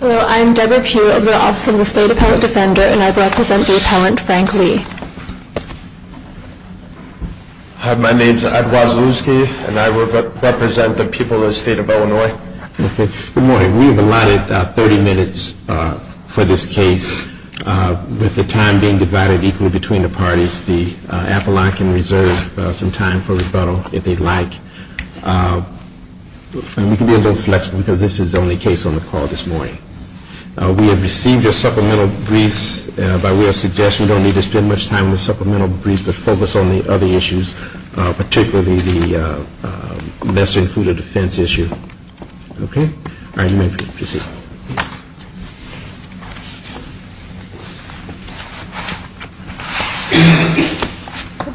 Hello, I'm Deborah Pugh of the Office of the State Appellant Defender, and I represent the Appellant Frank Lee. Hi, my name is Ed Wazulski, and I represent the people of the State of Illinois. We have allotted 30 minutes for this case with the time being divided equally between the parties. The appellant can reserve some time for rebuttal if they'd like. We can be a little flexible because this is the only case on the call this morning. We have received your supplemental briefs. By way of suggestion, we don't need to spend much time on the supplemental briefs, but focus on the other issues, particularly the lesser-included offense issue. Okay? All right, you may proceed.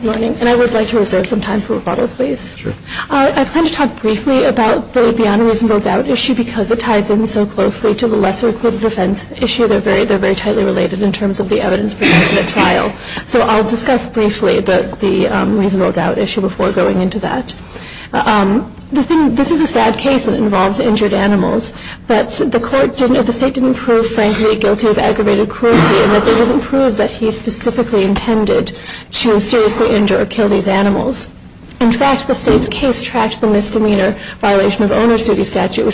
Good morning, and I would like to reserve some time for rebuttal, please. Sure. I plan to talk briefly about the beyond reasonable doubt issue because it ties in so closely to the lesser-included offense issue. Okay. So I'll discuss briefly the reasonable doubt issue before going into that. This is a sad case that involves injured animals, but the state didn't prove Frank Lee guilty of aggravated cruelty, and they didn't prove that he specifically intended to seriously injure or kill these animals. In fact, the state's case tracked the misdemeanor violation of owner's duty statute,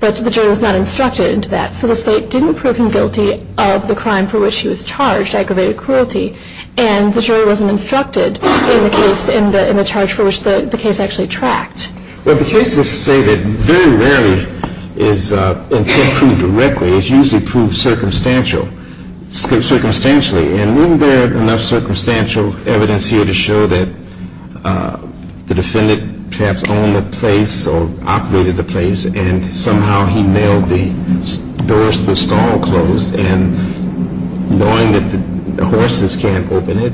but the jury was not instructed into that. So the state didn't prove him guilty of the crime for which he was charged, aggravated cruelty, and the jury wasn't instructed in the case, in the charge for which the case actually tracked. Well, the cases say that very rarely is intent proved directly. It's usually proved circumstantial, circumstantially, and isn't there enough circumstantial evidence here to show that the defendant perhaps owned the place or operated the place and somehow he nailed the doors to the stall closed and knowing that the horses can't open it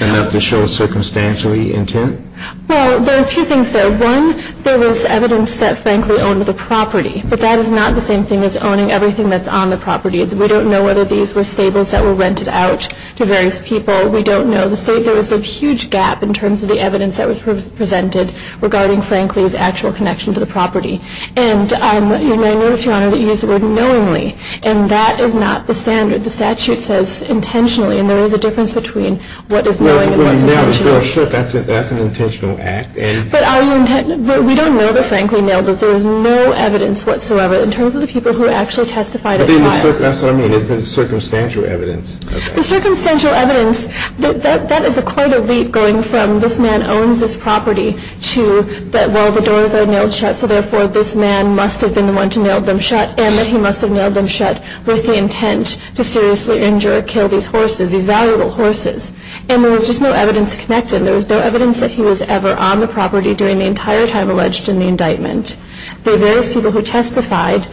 enough to show circumstantially intent? Well, there are a few things there. One, there was evidence that Frank Lee owned the property, but that is not the same thing as owning everything that's on the property. We don't know whether these were stables that were rented out to various people. We don't know. So the state, there was a huge gap in terms of the evidence that was presented regarding Frank Lee's actual connection to the property. And I notice, Your Honor, that you used the word knowingly, and that is not the standard. The statute says intentionally, and there is a difference between what is knowing and what is intentional. Well, you nailed the door shut. That's an intentional act. But we don't know that Frank Lee nailed it. There is no evidence whatsoever in terms of the people who actually testified at the time. That's what I mean. It's circumstantial evidence. The circumstantial evidence, that is quite a leap going from this man owns this property to that, well, the doors are nailed shut, so therefore this man must have been the one to nail them shut and that he must have nailed them shut with the intent to seriously injure or kill these horses, these valuable horses. And there was just no evidence to connect him. There was no evidence that he was ever on the property during the entire time alleged in the indictment. The various people who testified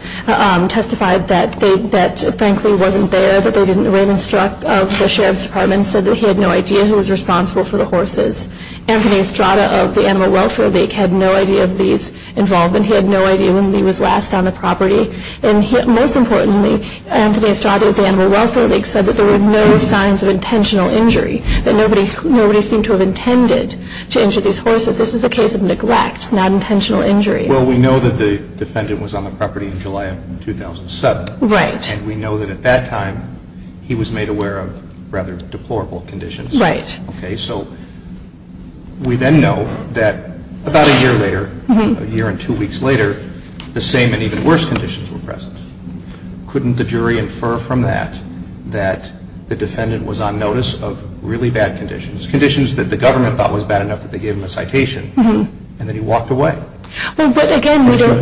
testified that Frank Lee wasn't there, that they didn't, Raymond Struck of the Sheriff's Department said that he had no idea who was responsible for the horses. Anthony Estrada of the Animal Welfare League had no idea of Lee's involvement. He had no idea when Lee was last on the property. And most importantly, Anthony Estrada of the Animal Welfare League said that there were no signs of intentional injury, that nobody seemed to have intended to injure these horses. This is a case of neglect, not intentional injury. Well, we know that the defendant was on the property in July of 2007. Right. And we know that at that time he was made aware of rather deplorable conditions. Right. Okay, so we then know that about a year later, a year and two weeks later, the same and even worse conditions were present. Couldn't the jury infer from that that the defendant was on notice of really bad conditions, conditions that the government thought was bad enough that they gave him a citation, and then he walked away. Well, but again, we don't...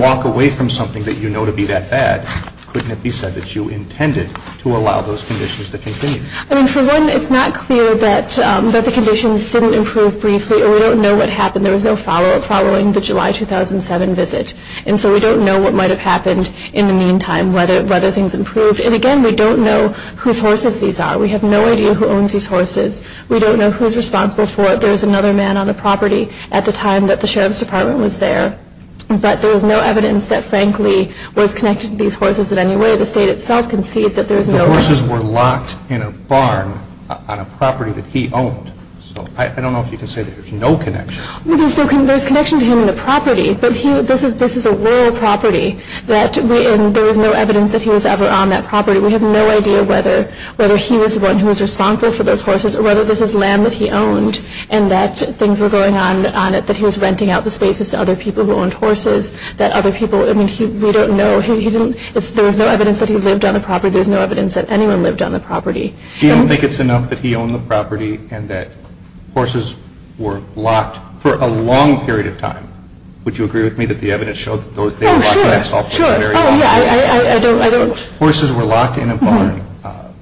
couldn't it be said that you intended to allow those conditions to continue? I mean, for one, it's not clear that the conditions didn't improve briefly, or we don't know what happened. There was no follow-up following the July 2007 visit. And so we don't know what might have happened in the meantime, whether things improved. And, again, we don't know whose horses these are. We have no idea who owns these horses. We don't know who's responsible for it. There was another man on the property at the time that the Sheriff's Department was there. But there is no evidence that, frankly, was connected to these horses in any way. The state itself concedes that there is no... The horses were locked in a barn on a property that he owned. So I don't know if you can say that there's no connection. Well, there's connection to him and the property. But this is a rural property, and there was no evidence that he was ever on that property. We have no idea whether he was the one who was responsible for those horses or whether this is land that he owned and that things were going on on it, that he was renting out the spaces to other people who owned horses, that other people... I mean, we don't know. There was no evidence that he lived on the property. There's no evidence that anyone lived on the property. You don't think it's enough that he owned the property and that horses were locked for a long period of time? Would you agree with me that the evidence showed that they were locked in a barn? Oh, sure. Sure. Oh, yeah. I don't... Horses were locked in a barn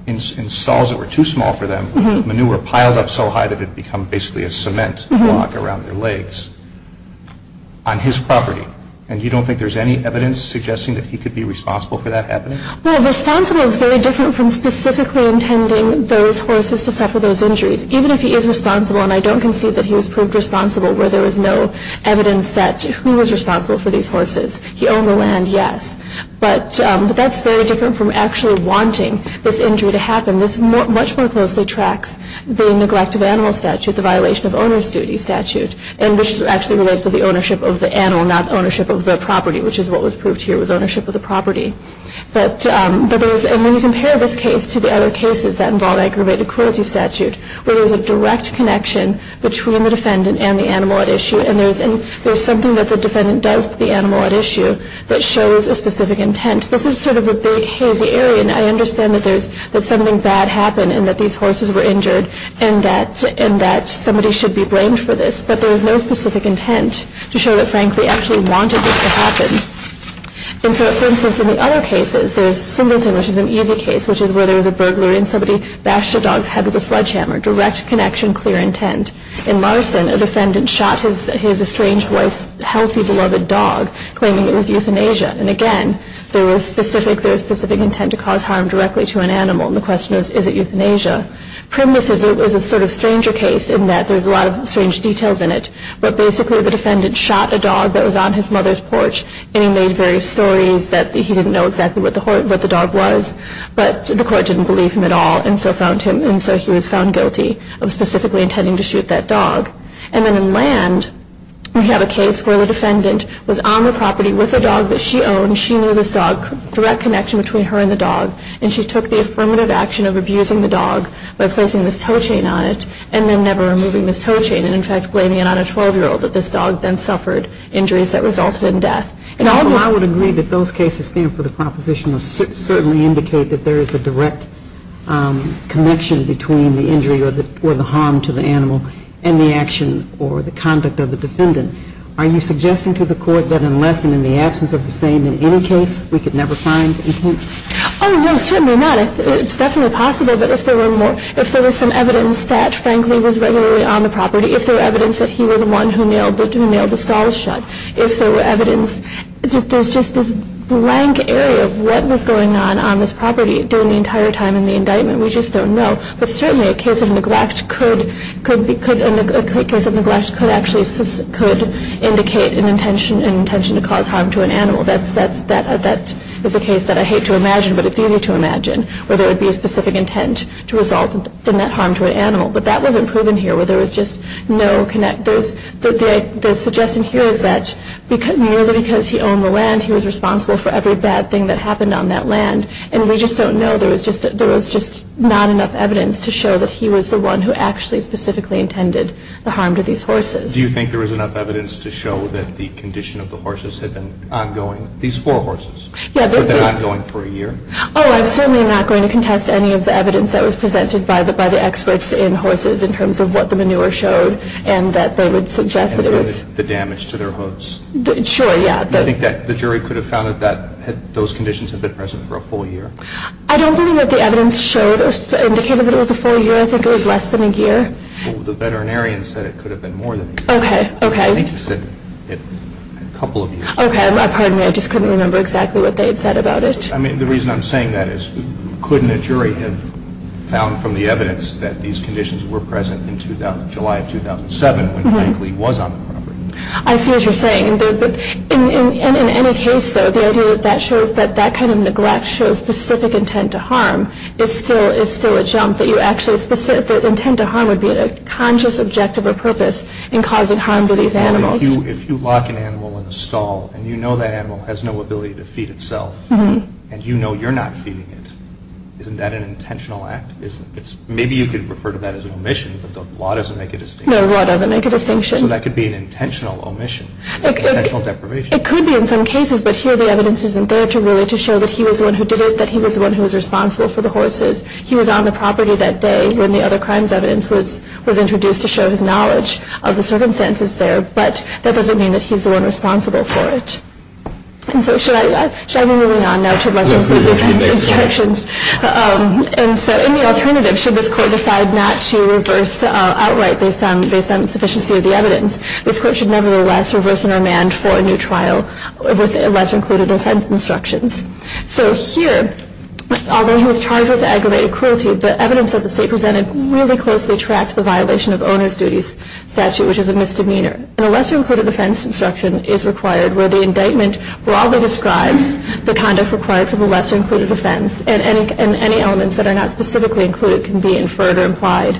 in stalls that were too small for them. Manure piled up so high that it had become basically a cement block around their legs on his property. And you don't think there's any evidence suggesting that he could be responsible for that happening? Well, responsible is very different from specifically intending those horses to suffer those injuries. Even if he is responsible, and I don't concede that he was proved responsible where there was no evidence that he was responsible for these horses. He owned the land, yes. But that's very different from actually wanting this injury to happen. And this much more closely tracks the neglect of animal statute, the violation of owner's duty statute. And this is actually related to the ownership of the animal, not ownership of the property, which is what was proved here was ownership of the property. But there's... And when you compare this case to the other cases that involve aggravated cruelty statute, where there's a direct connection between the defendant and the animal at issue, and there's something that the defendant does to the animal at issue that shows a specific intent, this is sort of a big, hazy area. And I understand that something bad happened and that these horses were injured and that somebody should be blamed for this. But there was no specific intent to show that, frankly, he actually wanted this to happen. And so, for instance, in the other cases, there's Singleton, which is an easy case, which is where there was a burglary and somebody bashed a dog's head with a sledgehammer. Direct connection, clear intent. In Larson, a defendant shot his estranged wife's healthy, beloved dog, claiming it was euthanasia. And again, there was specific intent to cause harm directly to an animal. And the question is, is it euthanasia? Primbus is a sort of stranger case in that there's a lot of strange details in it. But basically, the defendant shot a dog that was on his mother's porch, and he made various stories that he didn't know exactly what the dog was. But the court didn't believe him at all and so found him, and so he was found guilty of specifically intending to shoot that dog. And then in Land, we have a case where the defendant was on the property with a dog that she owned. She knew this dog, direct connection between her and the dog, and she took the affirmative action of abusing the dog by placing this toe chain on it and then never removing this toe chain and, in fact, blaming it on a 12-year-old that this dog then suffered injuries that resulted in death. And all this... Well, I would agree that those cases stand for the proposition of certainly indicate and the action or the conduct of the defendant. Are you suggesting to the court that unless and in the absence of the same in any case, we could never find intent? Oh, no, certainly not. It's definitely possible, but if there were some evidence that, frankly, was regularly on the property, if there were evidence that he was the one who nailed the stall shut, if there were evidence... There's just this blank area of what was going on on this property during the entire time in the indictment. We just don't know. But certainly a case of neglect could actually indicate an intention to cause harm to an animal. That is a case that I hate to imagine, but it's easy to imagine, where there would be a specific intent to result in that harm to an animal. But that wasn't proven here, where there was just no... The suggestion here is that merely because he owned the land, he was responsible for every bad thing that happened on that land, and we just don't know. There was just not enough evidence to show that he was the one who actually specifically intended the harm to these horses. Do you think there was enough evidence to show that the condition of the horses had been ongoing, these four horses, had been ongoing for a year? Oh, I'm certainly not going to contest any of the evidence that was presented by the experts in horses in terms of what the manure showed and that they would suggest that it was... And the damage to their hooves. Sure, yeah. Do you think that the jury could have found that those conditions had been present for a full year? I don't believe that the evidence showed or indicated that it was a full year. I think it was less than a year. The veterinarian said it could have been more than a year. Okay, okay. I think he said a couple of years. Okay, pardon me. I just couldn't remember exactly what they had said about it. I mean, the reason I'm saying that is, couldn't a jury have found from the evidence that these conditions were present in July of 2007, when Frank Lee was on the property? I see what you're saying. In any case, though, the idea that that shows that that kind of neglect shows specific intent to harm is still a jump, that intent to harm would be a conscious objective or purpose in causing harm to these animals. If you lock an animal in a stall, and you know that animal has no ability to feed itself, and you know you're not feeding it, isn't that an intentional act? Maybe you could refer to that as an omission, but the law doesn't make a distinction. No, the law doesn't make a distinction. So that could be an intentional omission, intentional deprivation. It could be in some cases, but here the evidence isn't there to really show that he was the one who did it, that he was the one who was responsible for the horses. He was on the property that day when the other crimes evidence was introduced to show his knowledge of the circumstances there, but that doesn't mean that he's the one responsible for it. And so should I be moving on now to the lessons from the previous instructions? And so in the alternative, should this court decide not to reverse outright based on the sufficiency of the evidence? This court should nevertheless reverse and remand for a new trial with lesser-included offense instructions. So here, although he was charged with aggravated cruelty, the evidence that the State presented really closely tracked the violation of owner's duties statute, which is a misdemeanor. And a lesser-included offense instruction is required where the indictment broadly describes the conduct required for the lesser-included offense, and any elements that are not specifically included can be inferred or implied.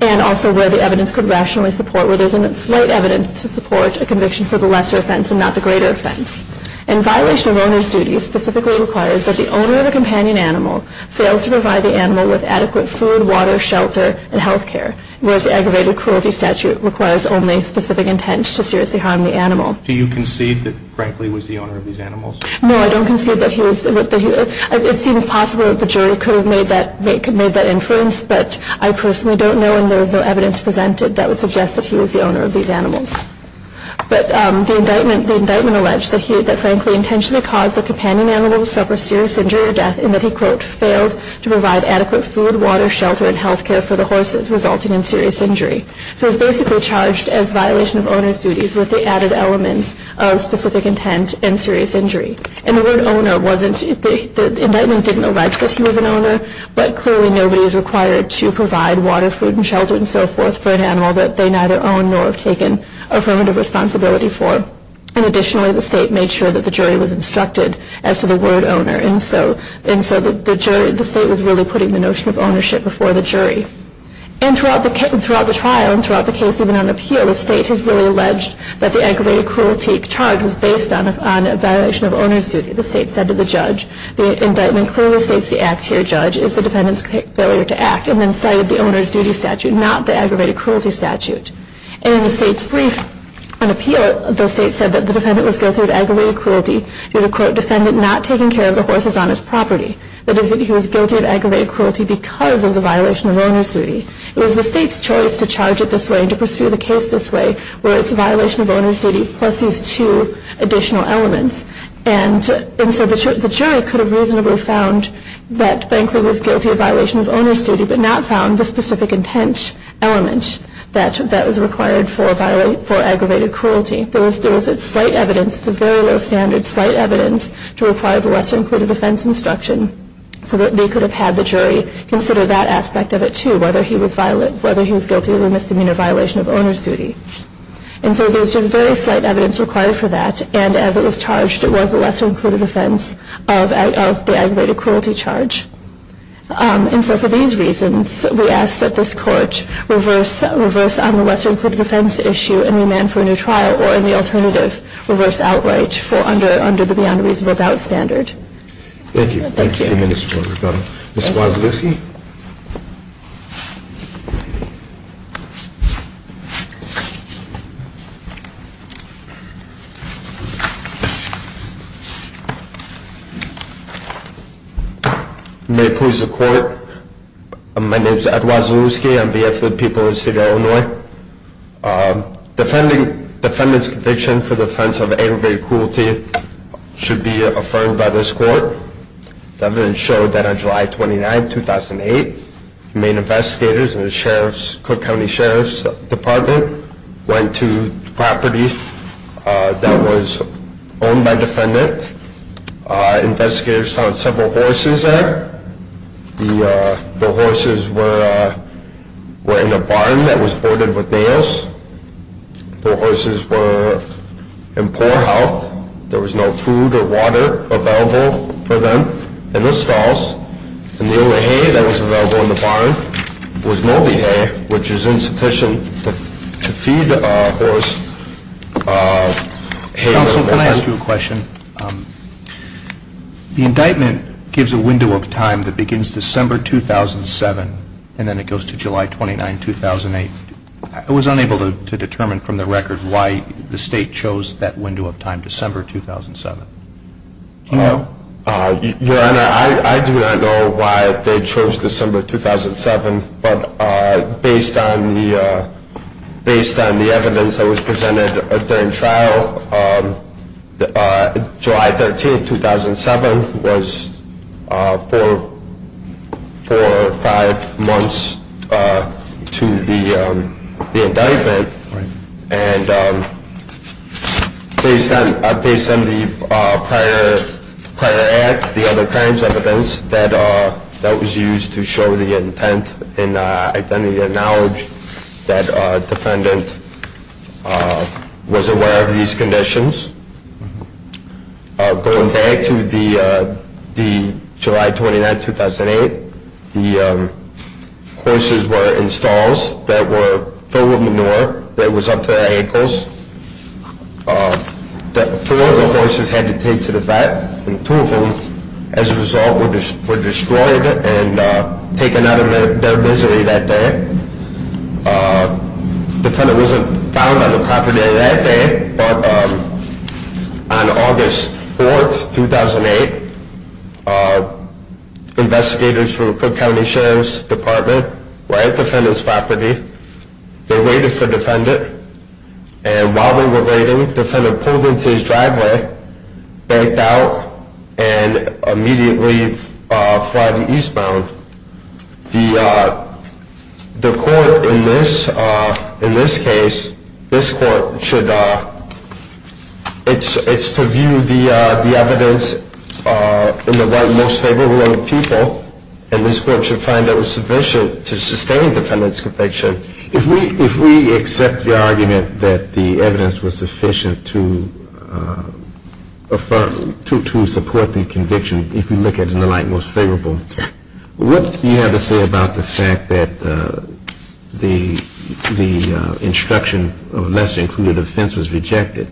And also where the evidence could rationally support, where there's a slight evidence to support a conviction for the lesser offense and not the greater offense. And violation of owner's duties specifically requires that the owner of a companion animal fails to provide the animal with adequate food, water, shelter, and health care, whereas the aggravated cruelty statute requires only specific intent to seriously harm the animal. Do you concede that, frankly, he was the owner of these animals? No, I don't concede that he was. It seems possible that the jury could have made that inference, but I personally don't know, and there is no evidence presented that would suggest that he was the owner of these animals. But the indictment alleged that he, frankly, intentionally caused a companion animal to suffer serious injury or death, and that he, quote, failed to provide adequate food, water, shelter, and health care for the horses, resulting in serious injury. So he's basically charged as violation of owner's duties with the added elements of specific intent and serious injury. But clearly nobody is required to provide water, food, and shelter, and so forth, for an animal that they neither own nor have taken affirmative responsibility for. And additionally, the state made sure that the jury was instructed as to the word owner, and so the state was really putting the notion of ownership before the jury. And throughout the trial and throughout the case, even on appeal, the state has really alleged that the aggravated cruelty charge is based on a violation of owner's duty. The state said to the judge, the indictment clearly states the act here, judge, is the defendant's failure to act, and then cited the owner's duty statute, not the aggravated cruelty statute. And in the state's brief on appeal, the state said that the defendant was guilty of aggravated cruelty. You have a, quote, defendant not taking care of the horses on his property. That is that he was guilty of aggravated cruelty because of the violation of owner's duty. It was the state's choice to charge it this way and to pursue the case this way, where it's a violation of owner's duty plus these two additional elements. And so the jury could have reasonably found that Bankley was guilty of violation of owner's duty but not found the specific intent element that was required for aggravated cruelty. There was slight evidence, it's a very low standard, slight evidence to require the lesser included offense instruction so that they could have had the jury consider that aspect of it too, whether he was guilty of a misdemeanor violation of owner's duty. And so there was just very slight evidence required for that, and as it was charged, it was the lesser included offense of the aggravated cruelty charge. And so for these reasons, we ask that this Court reverse on the lesser included offense issue and remand for a new trial or, in the alternative, reverse outright under the beyond reasonable doubt standard. Thank you. Thank you. Thank you, Mr. Judge. Thank you, Mr. Judge. Mr. Wazewski? May it please the Court, my name is Ed Wazewski. I'm the VF of the People of the City of Illinois. Defending defendant's conviction for the offense of aggravated cruelty should be affirmed by this Court. The evidence showed that on July 29, 2008, the main investigators in the Cook County Sheriff's Department went to the property that was owned by the defendant. Investigators found several horses there. The horses were in a barn that was boarded with nails. The horses were in poor health. There was no food or water available for them in the stalls. And the only hay that was available in the barn was moldy hay, which is insufficient to feed a horse. Counsel, can I ask you a question? The indictment gives a window of time that begins December 2007 and then it goes to July 29, 2008. I was unable to determine from the record why the State chose that window of time, December 2007. Your Honor, I do not know why they chose December 2007, but based on the evidence that was presented during trial, July 13, 2007 was four or five months to the indictment. And based on the prior act, the other crimes evidence, that was used to show the intent and identity and knowledge that the defendant was aware of these conditions. Going back to July 29, 2008, the horses were in stalls that were filled with manure that was up to their ankles. Four of the horses had to take to the vet, and two of them, as a result, were destroyed and taken out of their misery that day. The defendant wasn't found on the property that day, but on August 4, 2008, investigators from the Cook County Sheriff's Department were at the defendant's property. They waited for the defendant, and while they were waiting, the defendant pulled into his driveway, banked out, and immediately fled eastbound. The court in this case, this court should, it's to view the evidence in the light most favorable of the people, and this court should find it sufficient to sustain the defendant's conviction. If we accept the argument that the evidence was sufficient to support the conviction, if we look at it in the light most favorable, what do you have to say about the fact that the instruction of a lesser-included offense was rejected?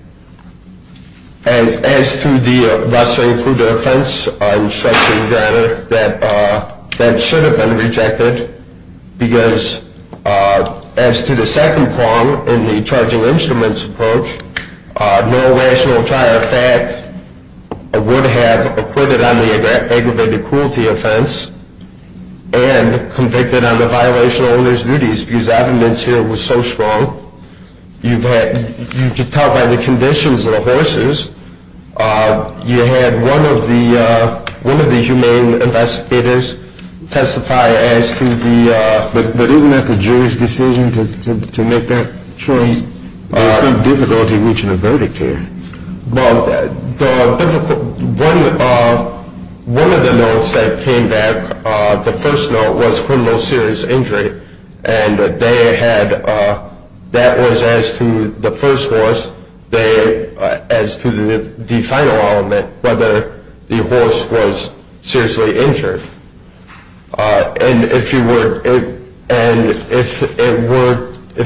As to the lesser-included offense instruction, rather, that should have been rejected, because as to the second prong in the charging instruments approach, no rational trier of fact would have acquitted on the aggravated cruelty offense and convicted on the violation of owner's duties, because the evidence here was so strong. You could tell by the conditions of the horses. You had one of the humane investigators testify as to the… But isn't that the jury's decision to make that choice? There's some difficulty reaching a verdict here. Well, one of the notes that came back, the first note was criminal serious injury, and that was as to the first horse, as to the final element, whether the horse was seriously injured. And if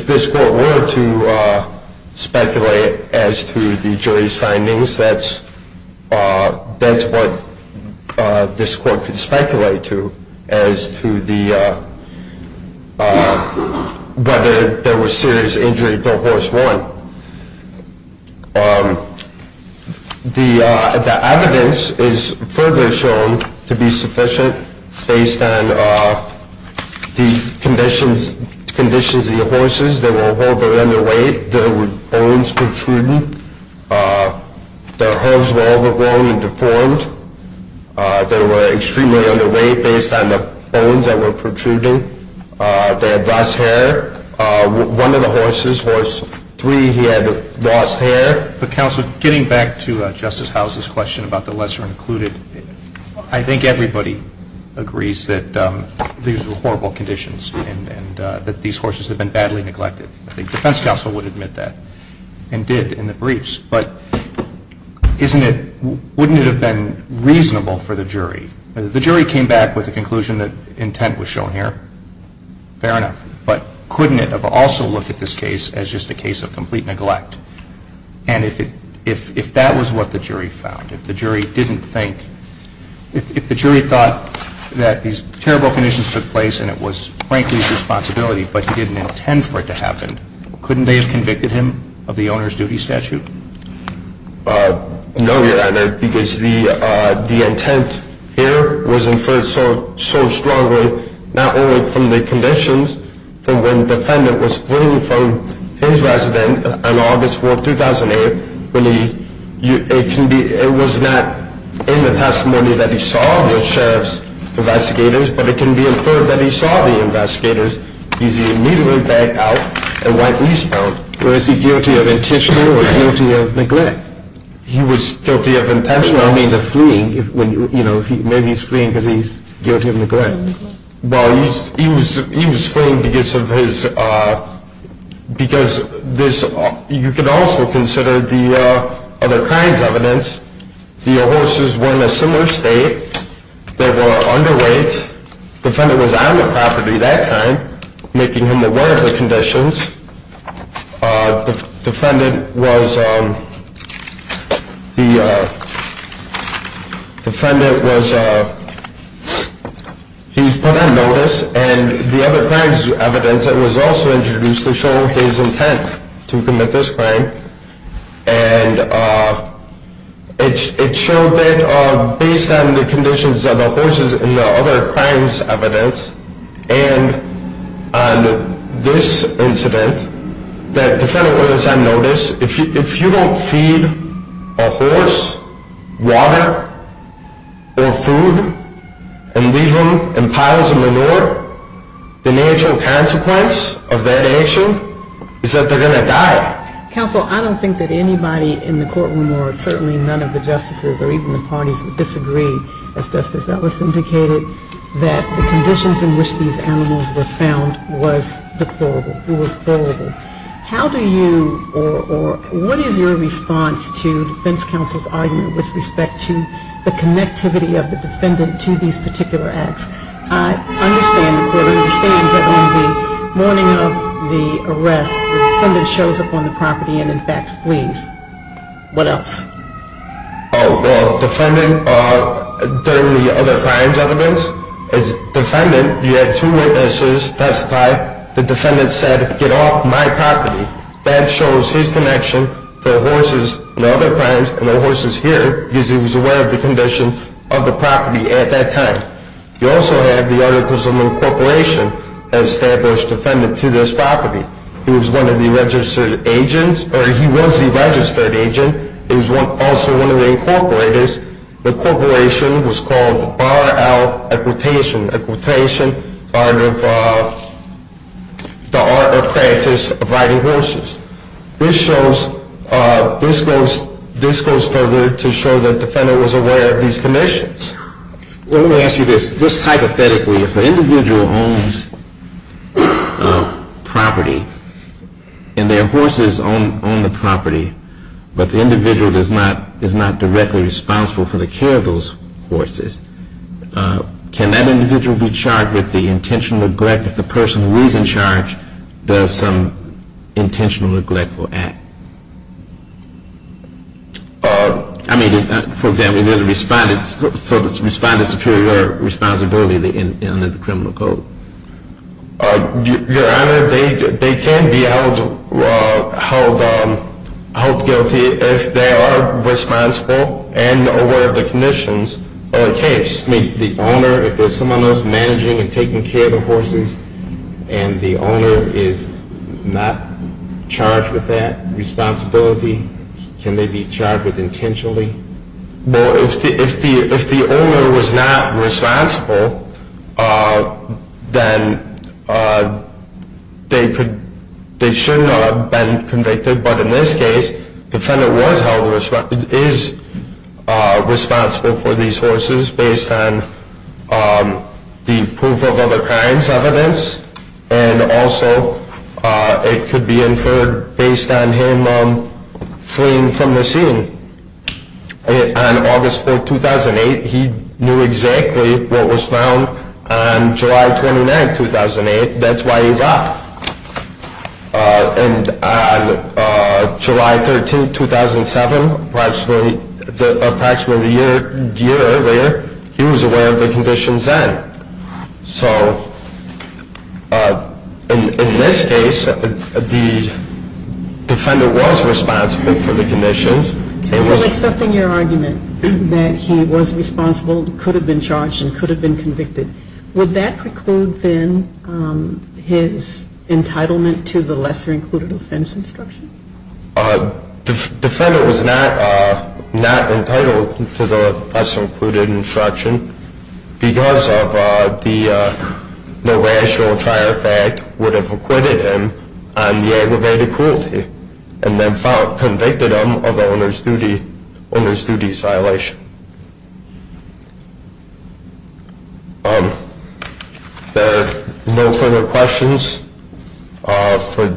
this court were to speculate as to the jury's findings, that's what this court could speculate to as to whether there was serious injury to horse one. The evidence is further shown to be sufficient based on the conditions of the horses. They were all very underweight. There were bones protruding. Their hooves were overgrown and deformed. They were extremely underweight based on the bones that were protruding. They had lost hair. One of the horses, horse three, he had lost hair. But, counsel, getting back to Justice House's question about the lesser included, I think everybody agrees that these were horrible conditions and that these horses had been badly neglected. I think defense counsel would admit that and did in the briefs. But wouldn't it have been reasonable for the jury? The jury came back with the conclusion that intent was shown here. Fair enough. But couldn't it have also looked at this case as just a case of complete neglect? And if that was what the jury found, if the jury didn't think, if the jury thought that these terrible conditions took place and it was, frankly, his responsibility, but he didn't intend for it to happen, couldn't they have convicted him of the owner's duty statute? No, Your Honor, because the intent here was inferred so strongly, not only from the conditions from when the defendant was fleeing from his resident on August 4, 2008. It was not in the testimony that he saw the sheriff's investigators, but it can be inferred that he saw the investigators. He's immediately backed out and went eastbound. Well, is he guilty of intentional or guilty of neglect? He was guilty of intentional. I mean the fleeing, you know, maybe he's fleeing because he's guilty of neglect. Well, he was fleeing because of his, because this, you could also consider the other kinds of evidence. The horses were in a similar state. They were underweight. The defendant was on the property that time, making him aware of the conditions. The defendant was, he was put on notice, and the other kinds of evidence that was also introduced to show his intent to commit this crime, and it showed that based on the conditions of the horses and the other kinds of evidence, and on this incident, that the defendant was on notice. If you don't feed a horse water or food and leave him in piles of manure, the natural consequence of that action is that they're going to die. Counsel, I don't think that anybody in the courtroom or certainly none of the justices or even the parties would disagree, as Justice Ellis indicated, that the conditions in which these animals were found was deplorable. It was horrible. How do you, or what is your response to defense counsel's argument with respect to the connectivity of the defendant to these particular acts? I understand the court understands that on the morning of the arrest, the defendant shows up on the property and, in fact, flees. What else? Oh, well, defendant, during the other crimes evidence, as defendant, you had two witnesses testify. The defendant said, get off my property. That shows his connection to the horses and other crimes and the horses here, because he was aware of the conditions of the property at that time. You also have the articles of incorporation that established the defendant to this property. He was one of the registered agents, or he was the registered agent. He was also one of the incorporators. The incorporation was called the borrow-out equitation, equitation out of the art or practice of riding horses. This goes further to show that the defendant was aware of these conditions. Well, let me ask you this. Just hypothetically, if an individual owns property and their horses own the property, but the individual is not directly responsible for the care of those horses, can that individual be charged with the intentional neglect if the person who is in charge does some intentional neglectful act? I mean, for example, there's a respondent. So the respondent's superior responsibility under the criminal code. Your Honor, they can be held guilty if they are responsible and aware of the conditions. It can't just be the owner. If there's someone else managing and taking care of the horses and the owner is not charged with that responsibility, can they be charged with intentionally? Well, if the owner was not responsible, then they should not have been convicted. But in this case, the defendant is responsible for these horses based on the proof of other crimes, evidence. And also, it could be inferred based on him fleeing from the scene. On August 4, 2008, he knew exactly what was found on July 29, 2008. That's why he left. And on July 13, 2007, approximately a year earlier, he was aware of the conditions then. So in this case, the defendant was responsible for the conditions. So accepting your argument that he was responsible, could have been charged, and could have been convicted, would that preclude then his entitlement to the lesser included offense instruction? Defendant was not entitled to the lesser included instruction because of the no rational trial fact would have acquitted him on the aggravated cruelty and then convicted him of the owner's duties violation. If there are no further questions, for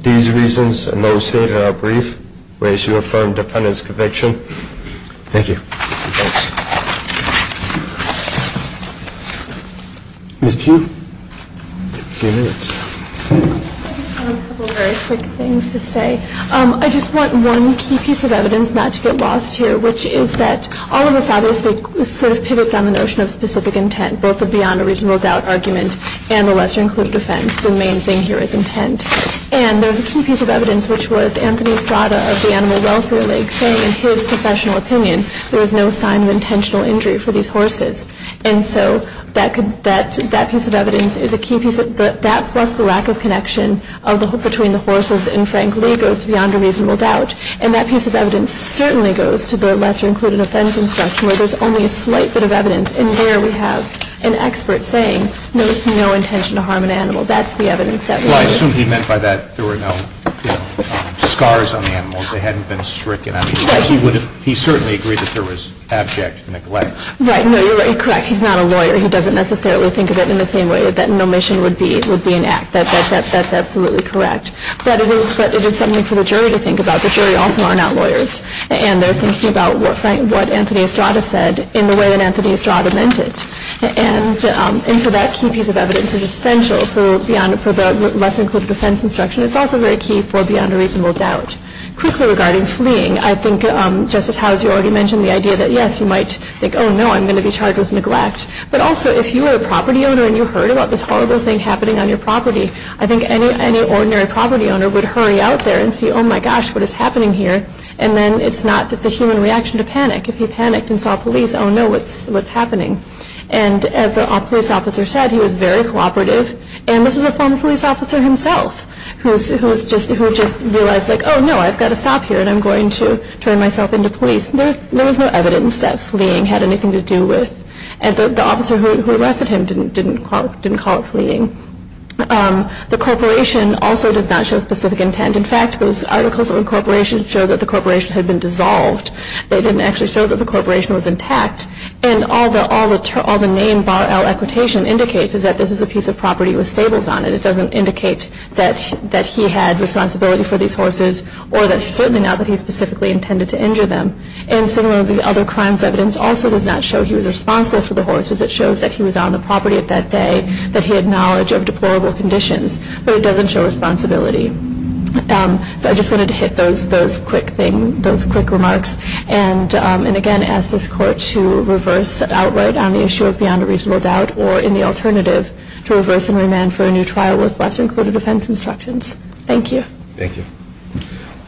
these reasons and those stated in our brief, we ask you to affirm defendant's conviction. Thank you. Thanks. Ms. Pugh, a few minutes. I just have a couple of very quick things to say. I just want one key piece of evidence not to get lost here, which is that all of this obviously sort of pivots on the notion of specific intent, both the beyond a reasonable doubt argument and the lesser included offense. The main thing here is intent. And there's a key piece of evidence, which was Anthony Strada of the Animal Welfare League saying in his professional opinion, there is no sign of intentional injury for these horses. And so that piece of evidence is a key piece. That plus the lack of connection between the horses and Frank Lee goes to beyond a reasonable doubt. And that piece of evidence certainly goes to the lesser included offense instruction where there's only a slight bit of evidence. And there we have an expert saying there was no intention to harm an animal. That's the evidence that we have. Well, I assume he meant by that there were no scars on the animals. They hadn't been stricken. He certainly agreed that there was abject neglect. Right. No, you're correct. He's not a lawyer. He doesn't necessarily think of it in the same way that nomination would be an act. That's absolutely correct. But it is something for the jury to think about. The jury also are not lawyers. And they're thinking about what Anthony Strada said in the way that Anthony Strada meant it. And so that key piece of evidence is essential for the lesser included offense instruction. It's also very key for beyond a reasonable doubt. Quickly regarding fleeing, I think, Justice Howes, you already mentioned the idea that, yes, you might think, oh, no, I'm going to be charged with neglect. But also, if you were a property owner and you heard about this horrible thing happening on your property, I think any ordinary property owner would hurry out there and see, oh, my gosh, what is happening here. And then it's a human reaction to panic. If he panicked and saw police, oh, no, what's happening? And as a police officer said, he was very cooperative. And this is a former police officer himself who just realized, like, oh, no, I've got to stop here, and I'm going to turn myself into police. There was no evidence that fleeing had anything to do with it. And the officer who arrested him didn't call it fleeing. The corporation also does not show specific intent. In fact, those articles on corporation show that the corporation had been dissolved. They didn't actually show that the corporation was intact. And all the name bar L equitation indicates is that this is a piece of property with stables on it. It doesn't indicate that he had responsibility for these horses or certainly not that he specifically intended to injure them. And similarly, other crimes evidence also does not show he was responsible for the horses. It shows that he was on the property that day, that he had knowledge of deplorable conditions, but it doesn't show responsibility. So I just wanted to hit those quick remarks and, again, ask this Court to reverse outright on the issue of beyond a reasonable doubt or, in the alternative, to reverse and remand for a new trial with lesser-included defense instructions. Thank you. Thank you.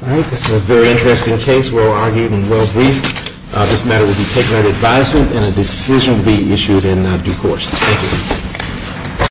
All right. This is a very interesting case. Well argued and well briefed. This matter will be taken under advisement and a decision will be issued in due course. Thank you.